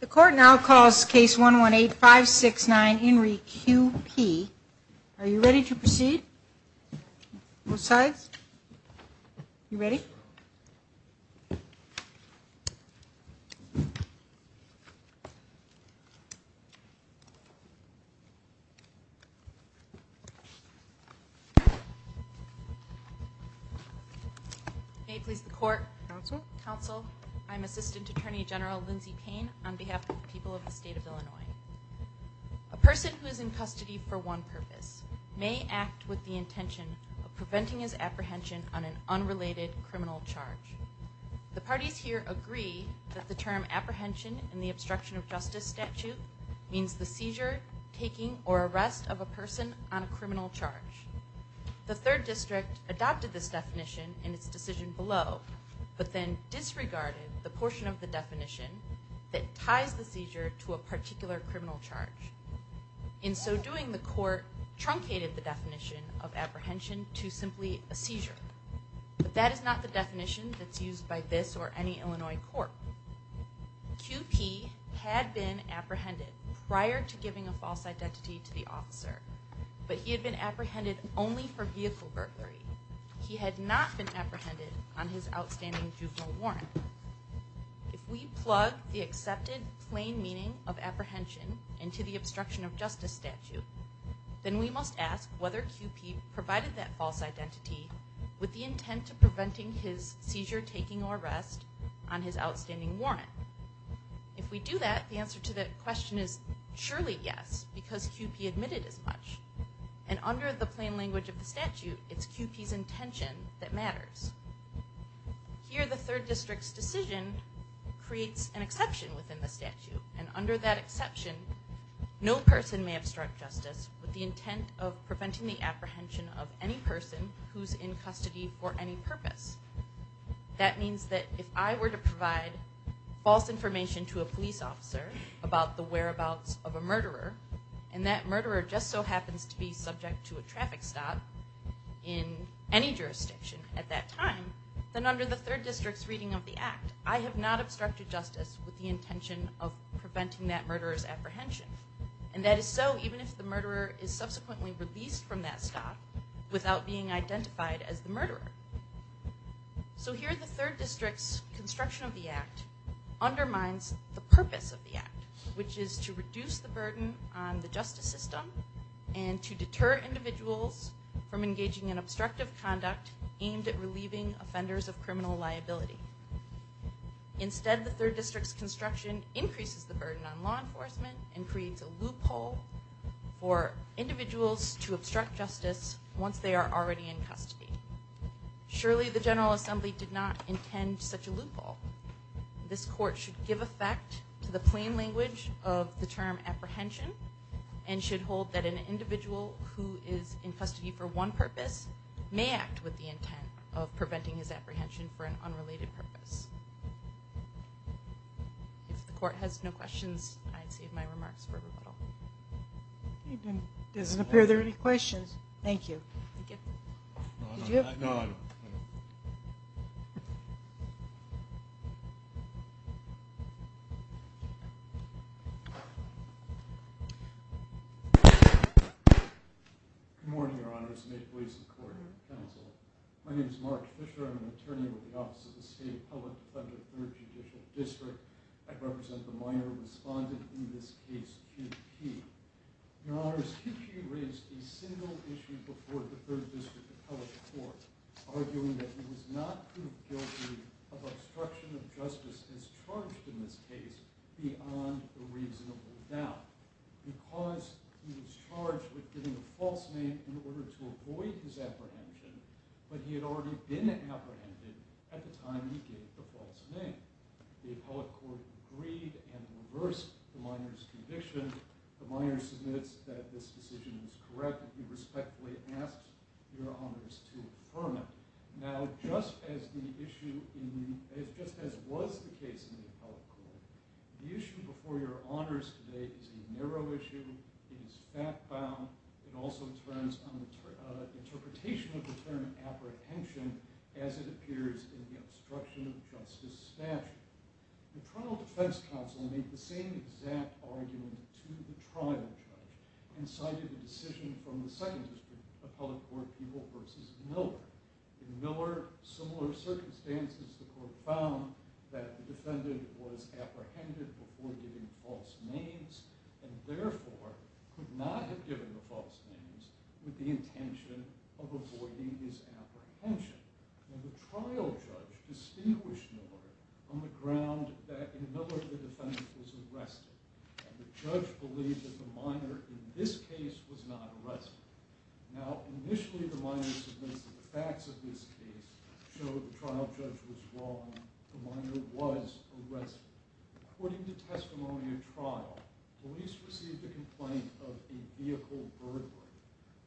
The court now calls case 118569 In re Q.P. Are you ready to proceed? Both sides? You ready? May it please the court. Counsel. Counsel. I'm Assistant Attorney General Lindsay Payne on behalf of the people of the state of Illinois. A person who is in custody for one purpose may act with the intention of preventing his apprehension on an unrelated criminal charge. The parties here agree that the term apprehension in the obstruction of justice statute means the seizure, taking, or arrest of a person on a criminal charge. The third district adopted this definition in its decision below, but then disregarded the portion of the definition that ties the seizure to a particular criminal charge. In so doing, the court truncated the definition of apprehension to simply a seizure. But that is not the definition that's used by this or any Illinois court. Q.P. had been apprehended prior to giving a false identity to the officer, but he had been apprehended only for vehicle burglary. He had not been apprehended on his outstanding juvenile warrant. If we plug the accepted plain meaning of apprehension into the obstruction of justice statute, then we must ask whether Q.P. provided that false identity with the intent of preventing his seizure, taking, or arrest on his outstanding warrant. If we do that, the answer to that question is surely yes, because Q.P. admitted as much. And under the plain language of the statute, it's Q.P.'s intention that matters. Here, the third district's decision creates an exception within the statute, and under that exception, no person may obstruct justice with the intent of preventing the apprehension of any person who's in custody for any purpose. That means that if I were to provide false information to a police officer about the whereabouts of a murderer, and that murderer just so happens to be subject to a traffic stop in any jurisdiction at that time, then under the third district's reading of the act, I have not obstructed justice with the intention of preventing that murderer's apprehension. And that is so even if the murderer is subsequently released from that stop without being identified as the murderer. So here, the third district's construction of the act undermines the purpose of the act, which is to reduce the burden on the justice system and to deter individuals from engaging in obstructive conduct aimed at relieving offenders of criminal liability. Instead, the third district's construction increases the burden on law enforcement and creates a loophole for individuals to obstruct justice once they are already in custody. Surely the General Assembly did not intend such a loophole. This court should give effect to the plain language of the term apprehension and should hold that an individual who is in custody for one purpose may act with the intent of preventing his apprehension for an unrelated purpose. If the court has no questions, I'd save my remarks for rebuttal. It doesn't appear there are any questions. Thank you. Thank you. Did you have... No, I don't. Good morning, Your Honors. May it please the court and the counsel. My name is Mark Fisher. I'm an attorney with the Office of the State Public Defender, Third Judicial District. I represent the minor respondent in this case, QP. Your Honors, QP raised a single issue before the Third District Appellate Court arguing that he was not proved guilty of obstruction of justice as charged in this case beyond a reasonable doubt because he was charged with giving a false name in order to avoid his apprehension, but he had already been apprehended at the time he gave the false name. The Appellate Court agreed and reversed the minor's conviction. The minor submits that this decision is correct and he respectfully asks Your Honors to affirm it. Now, just as was the case in the Appellate Court, the issue before Your Honors today is a narrow issue. It is fact-bound. It also turns on the interpretation of the term apprehension as it appears in the obstruction of justice statute. The Toronto Defense Counsel made the same exact argument to the trial judge and cited the decision from the Second District Appellate Court people versus Miller. In Miller, similar circumstances, the court found that the defendant was apprehended before giving false names and therefore could not have given the false names with the intention of avoiding his apprehension. Now, the trial judge distinguished Miller on the ground that in Miller the defendant was arrested and the judge believed that the minor in this case was not arrested. Now, initially the minor submits that the facts of this case show the trial judge was wrong. The minor was arrested. According to testimony at trial, police received a complaint of a vehicle burglar.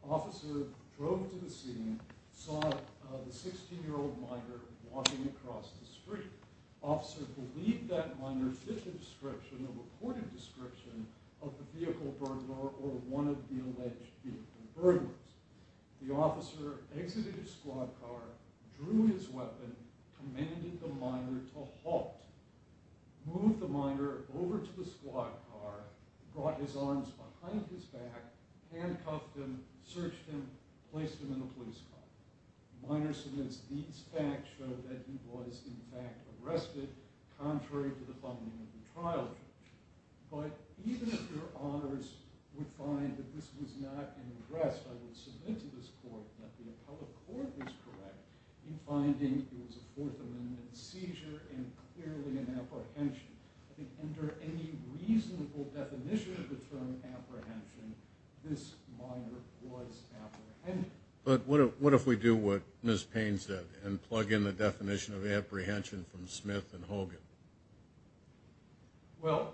Officer drove to the scene, saw the 16-year-old minor walking across the street. Officer believed that minor fit the description, the reported description, of the vehicle burglar or one of the alleged vehicle burglars. The officer exited his squad car, drew his weapon, commanded the minor to halt. Moved the minor over to the squad car, brought his arms behind his back, handcuffed him, searched him, placed him in a police car. Minor submits these facts show that he was in fact arrested contrary to the funding of the trial judge. But even if your honors would find that this was not an address I would submit to this court, that the appellate court was correct in finding it was a Fourth Amendment seizure and clearly an apprehension, I think under any reasonable definition of the term apprehension, this minor was apprehended. But what if we do what Ms. Payne said and plug in the definition of apprehension from Smith and Hogan? Well,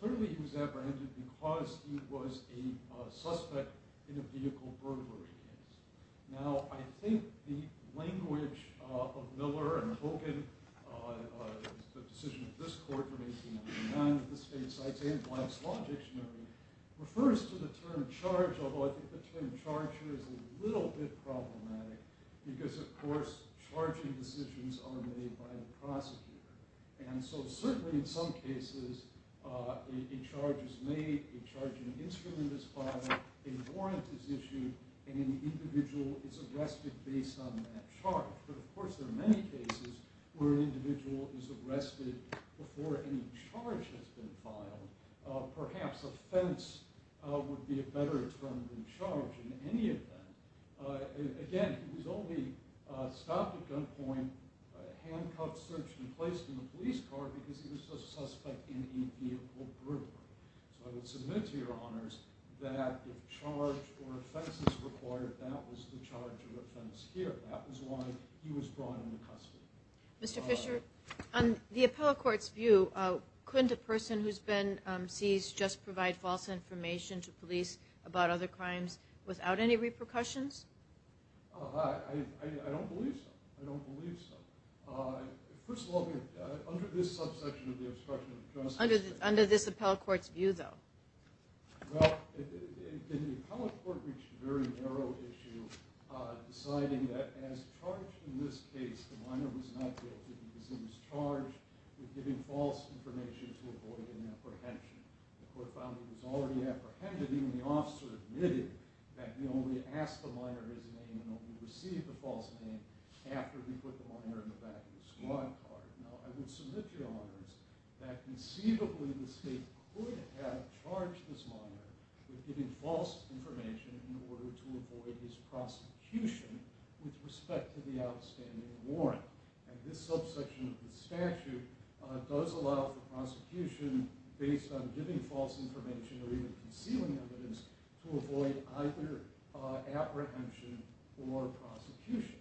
clearly he was apprehended because he was a suspect in a vehicle burglary case. Now, I think the language of Miller and Hogan, the decision of this court in 1899, of the state sites and White's Law Dictionary, refers to the term charge, which is a little bit problematic because, of course, charging decisions are made by the prosecutor. And so certainly in some cases, a charge is made, a charging instrument is filed, a warrant is issued, and an individual is arrested based on that charge. But of course there are many cases where an individual is arrested before any charge has been filed. Perhaps offense would be a better term than charge in any event. Again, he was only stopped at gunpoint, handcuffed, searched, and placed in a police car because he was a suspect in a vehicle burglary. So I would submit to your honors that if charge or offense is required, that was the charge of offense here. That was why he was brought into custody. Mr. Fisher, on the appellate court's view, couldn't a person who's been seized just provide false information to police about other crimes without any repercussions? I don't believe so. I don't believe so. First of all, under this subsection of the obstruction of justice... Under this appellate court's view, though. Well, the appellate court reached a very narrow issue deciding that as charged in this case, the minor was not guilty because he was charged with giving false information to avoid an apprehension. The court found he was already apprehended, even the officer admitted that he only asked the minor his name and only received the false name after he put the minor in the back of the squad car. Now, I would submit to your honors that conceivably the state could have charged this minor with giving false information in order to avoid his prosecution with respect to the outstanding warrant. And this subsection of the statute does allow for prosecution based on giving false information or even concealing evidence to avoid either apprehension or prosecution.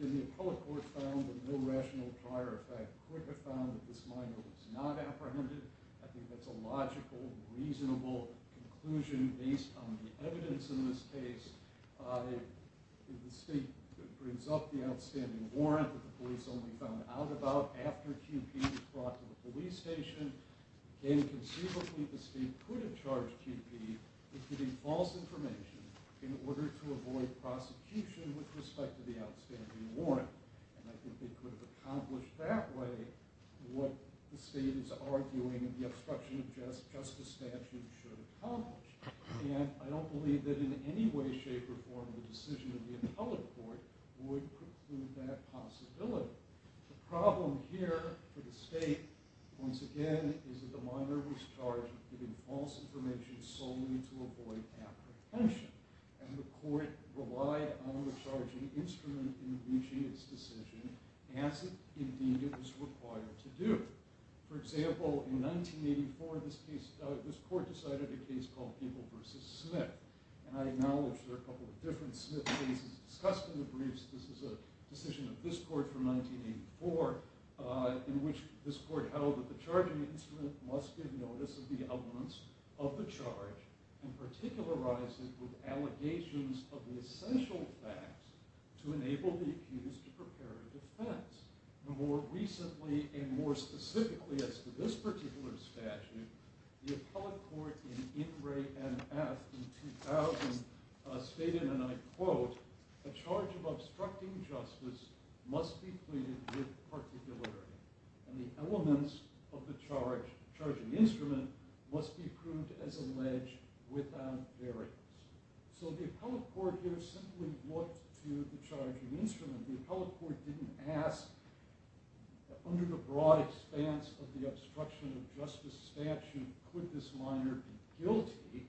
The appellate court found that no rational prior effect could have found that this minor was not apprehended. I think that's a logical, reasonable conclusion based on the evidence in this case. If the state brings up the outstanding warrant that the police only found out about after QP was brought to the police station, then conceivably the state could have charged QP with giving false information in order to avoid prosecution with respect to the outstanding warrant. And I think they could have accomplished that way what the state is arguing the obstruction of justice statute should accomplish. And I don't believe that in any way, shape, or form the decision of the appellate court would prove that possibility. The problem here for the state, once again, is that the minor was charged with giving false information solely to avoid apprehension. And the court relied on the charging instrument in reaching its decision as indeed it was required to do. For example, in 1984 this court decided a case called Gable v. Smith. And I acknowledge there are a couple of different Smith cases discussed in the briefs. This is a decision of this court from 1984 in which this court held that the charging instrument must give notice of the evidence of the charge and particularize it with allegations of the essential facts to enable the accused to prepare a defense. More recently and more specifically as to this particular statute, the appellate court in In Re and F in 2000 stated, and I quote, a charge of obstructing justice must be pleaded with particularity. And the elements of the charging instrument must be proved as alleged without variance. So the appellate court here simply looked to the charging instrument. The appellate court didn't ask, under the broad expanse of the obstruction of justice statute, could this minor be guilty?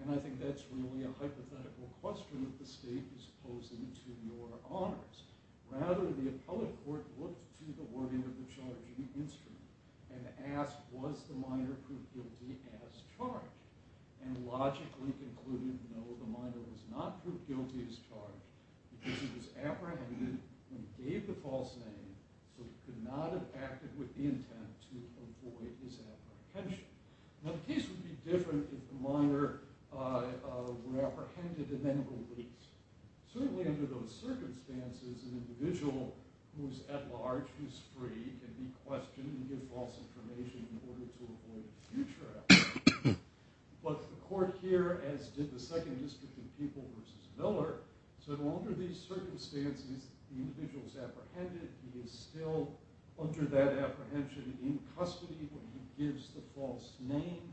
And I think that's really a hypothetical question that the state is posing to your honors. Rather, the appellate court looked to the wording of the charging instrument and asked, was the minor proved guilty as charged? And logically concluded, no, the minor was not proved guilty as charged because he was apprehended and gave the false name, so he could not have acted with the intent to avoid his apprehension. Now the case would be different if the minor were apprehended and then released. Certainly under those circumstances, an individual who's at large, who's free, can be questioned and give false information in order to avoid future action. But the court here, as did the Second District of People v. Miller, said under these circumstances, the individual is apprehended, he is still under that apprehension in custody when he gives the false name,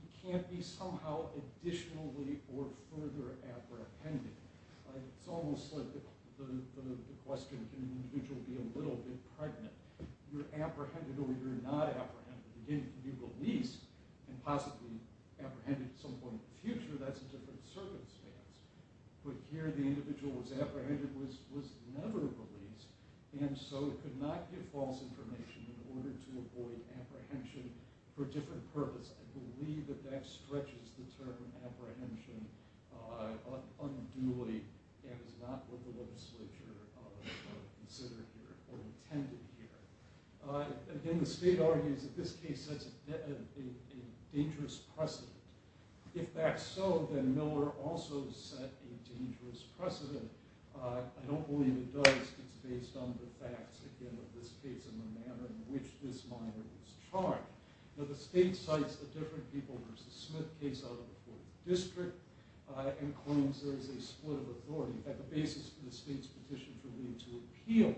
he can't be somehow additionally or further apprehended. It's almost like the question, can an individual be a little bit pregnant? You're apprehended or you're not apprehended. If you're released and possibly apprehended at some point in the future, that's a different circumstance. But here the individual was apprehended, was never released, and so could not give false information in order to avoid apprehension for a different purpose. I believe that that stretches the term apprehension unduly and is not what the legislature considered here or intended here. Again, the state argues that this case sets a dangerous precedent. If that's so, then Miller also set a dangerous precedent. I don't believe it does. It's based on the facts, again, of this case and the manner in which this minor was charged. The state cites the Different People v. Smith case out of the Fourth District and claims there is a split of authority. The basis for the state's petition for me to appeal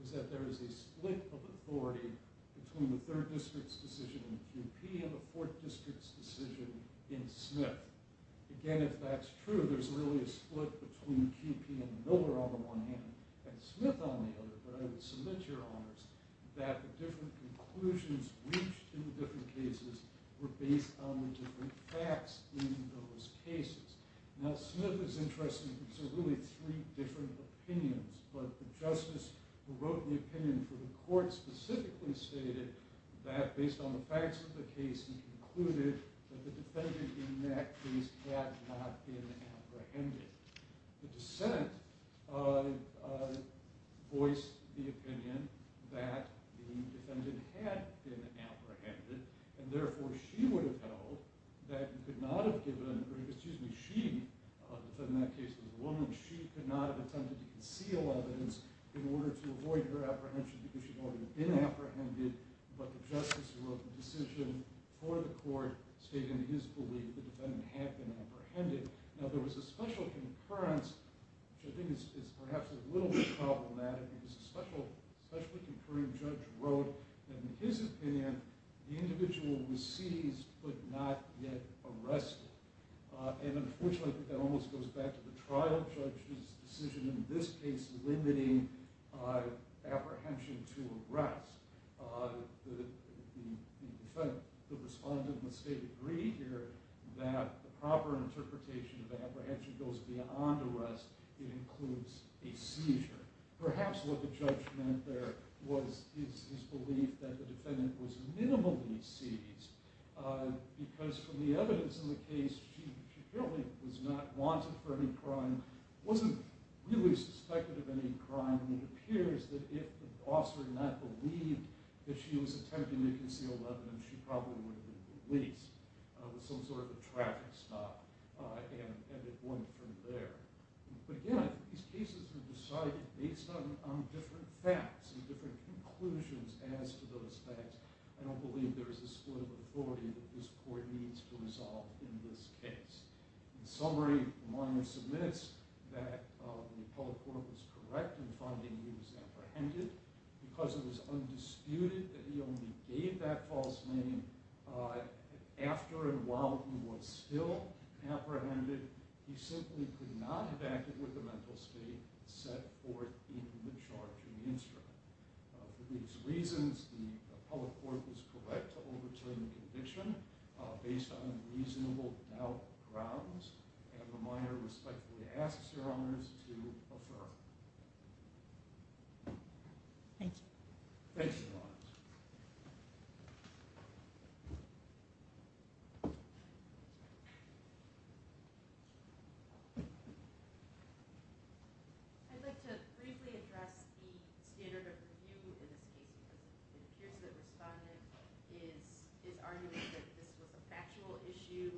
is that there is a split of authority between the Third District's decision in QP and the Fourth District's decision in Smith. Again, if that's true, there's really a split between QP and Miller on the one hand and Smith on the other. But I would submit to your honors that the different conclusions reached in the different cases were based on the different facts in those cases. Now, Smith is interesting because there are really three different opinions. But the justice who wrote the opinion for the court specifically stated that based on the facts of the case, he concluded that the defendant in that case had not been apprehended. The dissent voiced the opinion that the defendant had been apprehended, and therefore she would have held that she could not have attempted to conceal evidence in order to avoid her apprehension because she had already been apprehended. But the justice who wrote the decision for the court stated in his belief that the defendant had been apprehended. Now, there was a special concurrence, which I think is perhaps a little bit problematic, because a specially concurring judge wrote that in his opinion, the individual was seized but not yet arrested. And unfortunately, I think that almost goes back to the trial judge's decision in this case limiting apprehension to arrest. The respondent must agree here that the proper interpretation of apprehension goes beyond arrest. It includes a seizure. Perhaps what the judge meant there was his belief that the defendant was minimally seized because from the evidence in the case, she clearly was not wanted for any crime, wasn't really suspected of any crime, and it appears that if the officer had not believed that she was attempting to conceal evidence, she probably would have been released with some sort of a traffic stop and it wouldn't have turned there. But again, these cases are decided based on different facts and different conclusions as to those facts. I don't believe there is a split of authority that this court needs to resolve in this case. In summary, the minor submits that the public court was correct in finding he was apprehended because it was undisputed that he only gave that false name after and while he was still apprehended. He simply could not have acted with the mental state set forth in the charge in the instrument. For these reasons, the public court was correct to overturn the conviction based on reasonable doubt grounds, and the minor respectfully asks Your Honors to affirm. Thank you. Thanks, Your Honors. Thank you. I'd like to briefly address the standard of review in this case. It appears that the respondent is arguing that this was a factual issue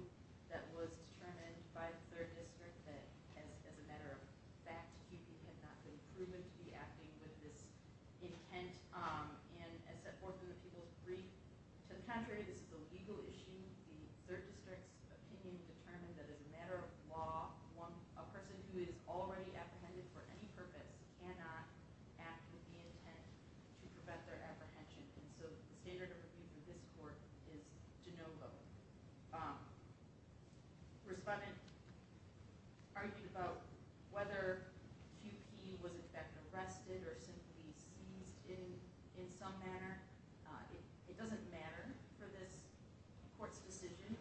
that was determined by the third district that as a matter of fact, he had not been proven to be acting with this intent and had set forth in the people's brief. To the contrary, this is a legal issue. The third district's opinion determined that as a matter of law, a person who is already apprehended for any purpose cannot act with the intent to prevent their apprehension. And so the standard of review in this court is de novo. The respondent argued about whether P.U.P. was in fact arrested or simply seized in some manner. It doesn't matter for this court's decision.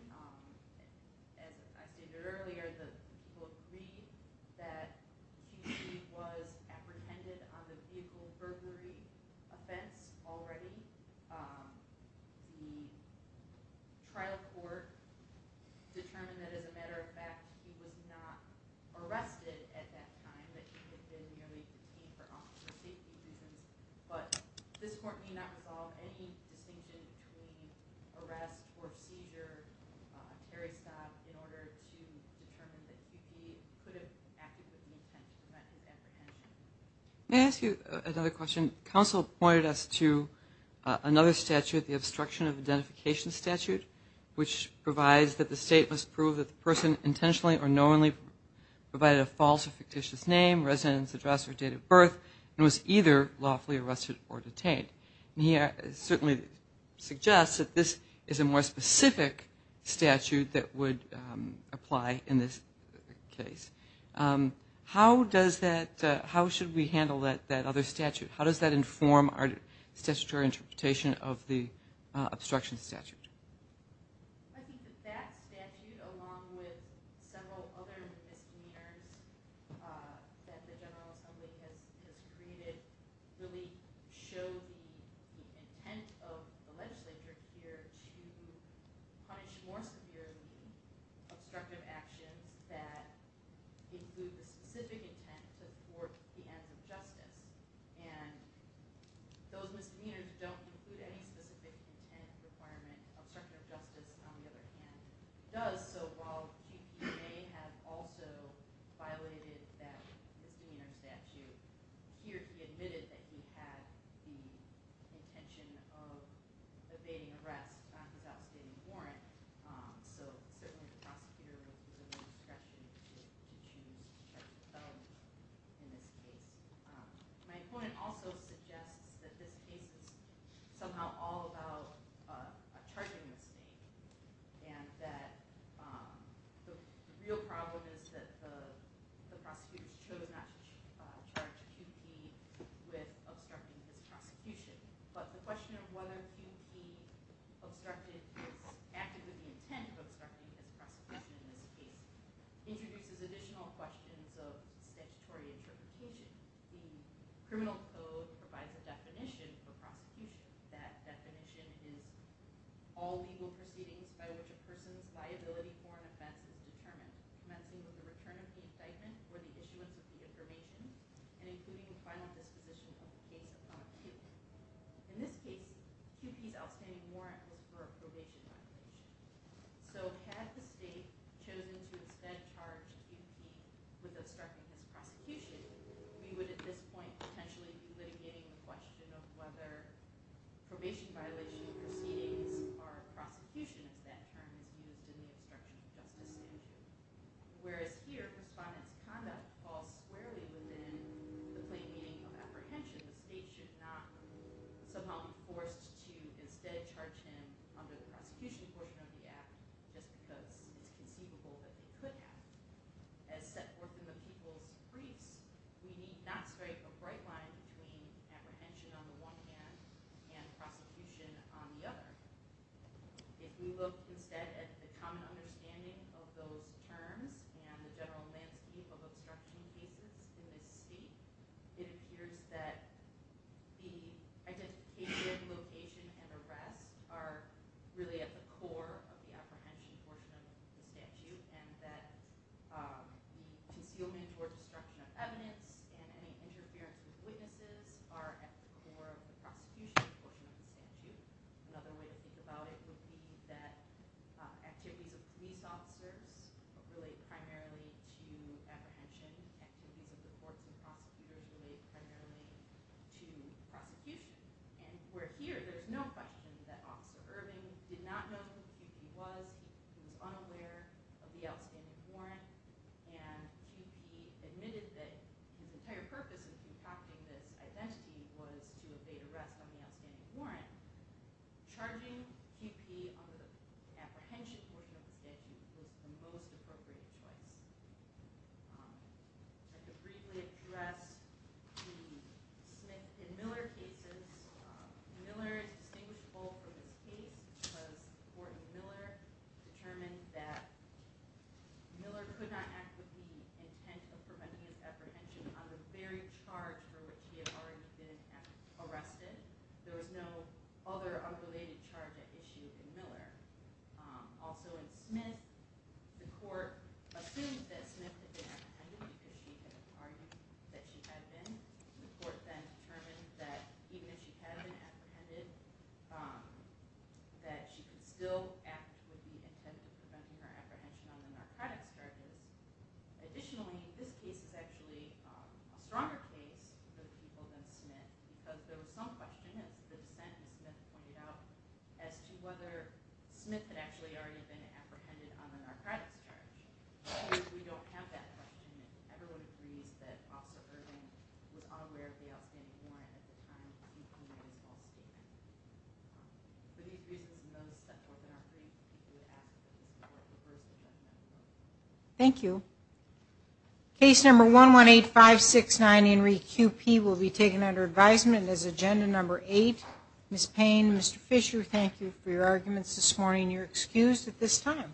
As I stated earlier, the court agreed that P.U.P. was apprehended on the vehicle burglary offense already. The trial court determined that as a matter of fact, he was not arrested at that time, that he had been merely detained for officer safety reasons. But this court may not resolve any distinction between arrest or seizure, a carry stop in order to determine that he could have acted with the intent to prevent his apprehension. May I ask you another question? Counsel pointed us to another statute, the obstruction of identification statute, which provides that the state must prove that the person intentionally or knowingly provided a false or fictitious name, residence address, or date of birth, and was either lawfully arrested or detained. And he certainly suggests that this is a more specific statute that would apply in this case. How should we handle that other statute? How does that inform our statutory interpretation of the obstruction statute? I think that that statute, along with several other misdemeanors that the General Assembly has created, really show the intent of the legislature here to punish more severely obstructive actions that include the specific intent to thwart the ends of justice. And those misdemeanors don't include any specific intent requirement. Obstruction of justice, on the other hand, does. So while he may have also violated that misdemeanor statute, here he admitted that he had the intention of evading arrest without stating a warrant. So certainly the prosecutor would be willing to question if he chooses to charge the felon in this case. My opponent also suggests that this case is somehow all about a charging mistake and that the real problem is that the prosecutors chose not to charge QP with obstructing his prosecution. But the question of whether QP obstructed his – acted with the intent of obstructing his prosecution in this case introduces additional questions of statutory interpretation. The criminal code provides a definition for prosecution. That definition is all legal proceedings by which a person's liability for an offense is determined, commencing with the return of the incitement for the issuance of the information and including a final disposition of the case upon appeal. In this case, QP's outstanding warrant was for a probation violation. So had the state chosen to instead charge QP with obstructing his prosecution, we would at this point potentially be litigating the question of whether probation violation proceedings or prosecution as that term is used in the obstruction of justice statute. Whereas here, Respondent's conduct falls squarely within the claiming of apprehension. The state should not somehow be forced to instead charge him under the prosecution portion of the act just because it's conceivable that they could have. As set forth in the People's Briefs, we need not strike a bright line between apprehension on the one hand and prosecution on the other. If we look instead at the common understanding of those terms and the general landscape of obstruction cases in this state, it appears that the identification, location, and arrests are really at the core of the apprehension portion of the statute and that the concealment or destruction of evidence and any interference with witnesses are at the core of the prosecution portion of the statute. Another way to think about it would be that activities of police officers relate primarily to apprehension. Activities of the courts and prosecutors relate primarily to prosecution. And where here, there's no question that Officer Irving did not know who QP was. He was unaware of the outstanding warrant. And QP admitted that the entire purpose of concocting this identity was to evade arrest on the outstanding warrant. Charging QP under the apprehension portion of the statute was the most appropriate choice. I could briefly address the Smith v. Miller cases. Miller is distinguishable from this case because the court in Miller determined that Miller could not act with the intent of preventing an apprehension on the very charge for which he had already been arrested. There was no other unrelated charge at issue in Miller. Also in Smith, the court assumed that Smith had been apprehended because she had argued that she had been. The court then determined that even if she had been apprehended, that she could still act with the intent of preventing her apprehension on the narcotics charges. Additionally, this case is actually a stronger case for the people than Smith because there was some question as to whether Smith had actually already been apprehended on the narcotics charge. We don't have that question. Everyone agrees that Officer Irving was aware of the outstanding warrant at the time of QP's false statement. For these reasons and those that were not briefed, we would ask that the court reverse the judgment. Thank you. Case number 118569, Henry QP, will be taken under advisement as agenda number 8. Ms. Payne, Mr. Fisher, thank you for your arguments this morning. You're excused at this time.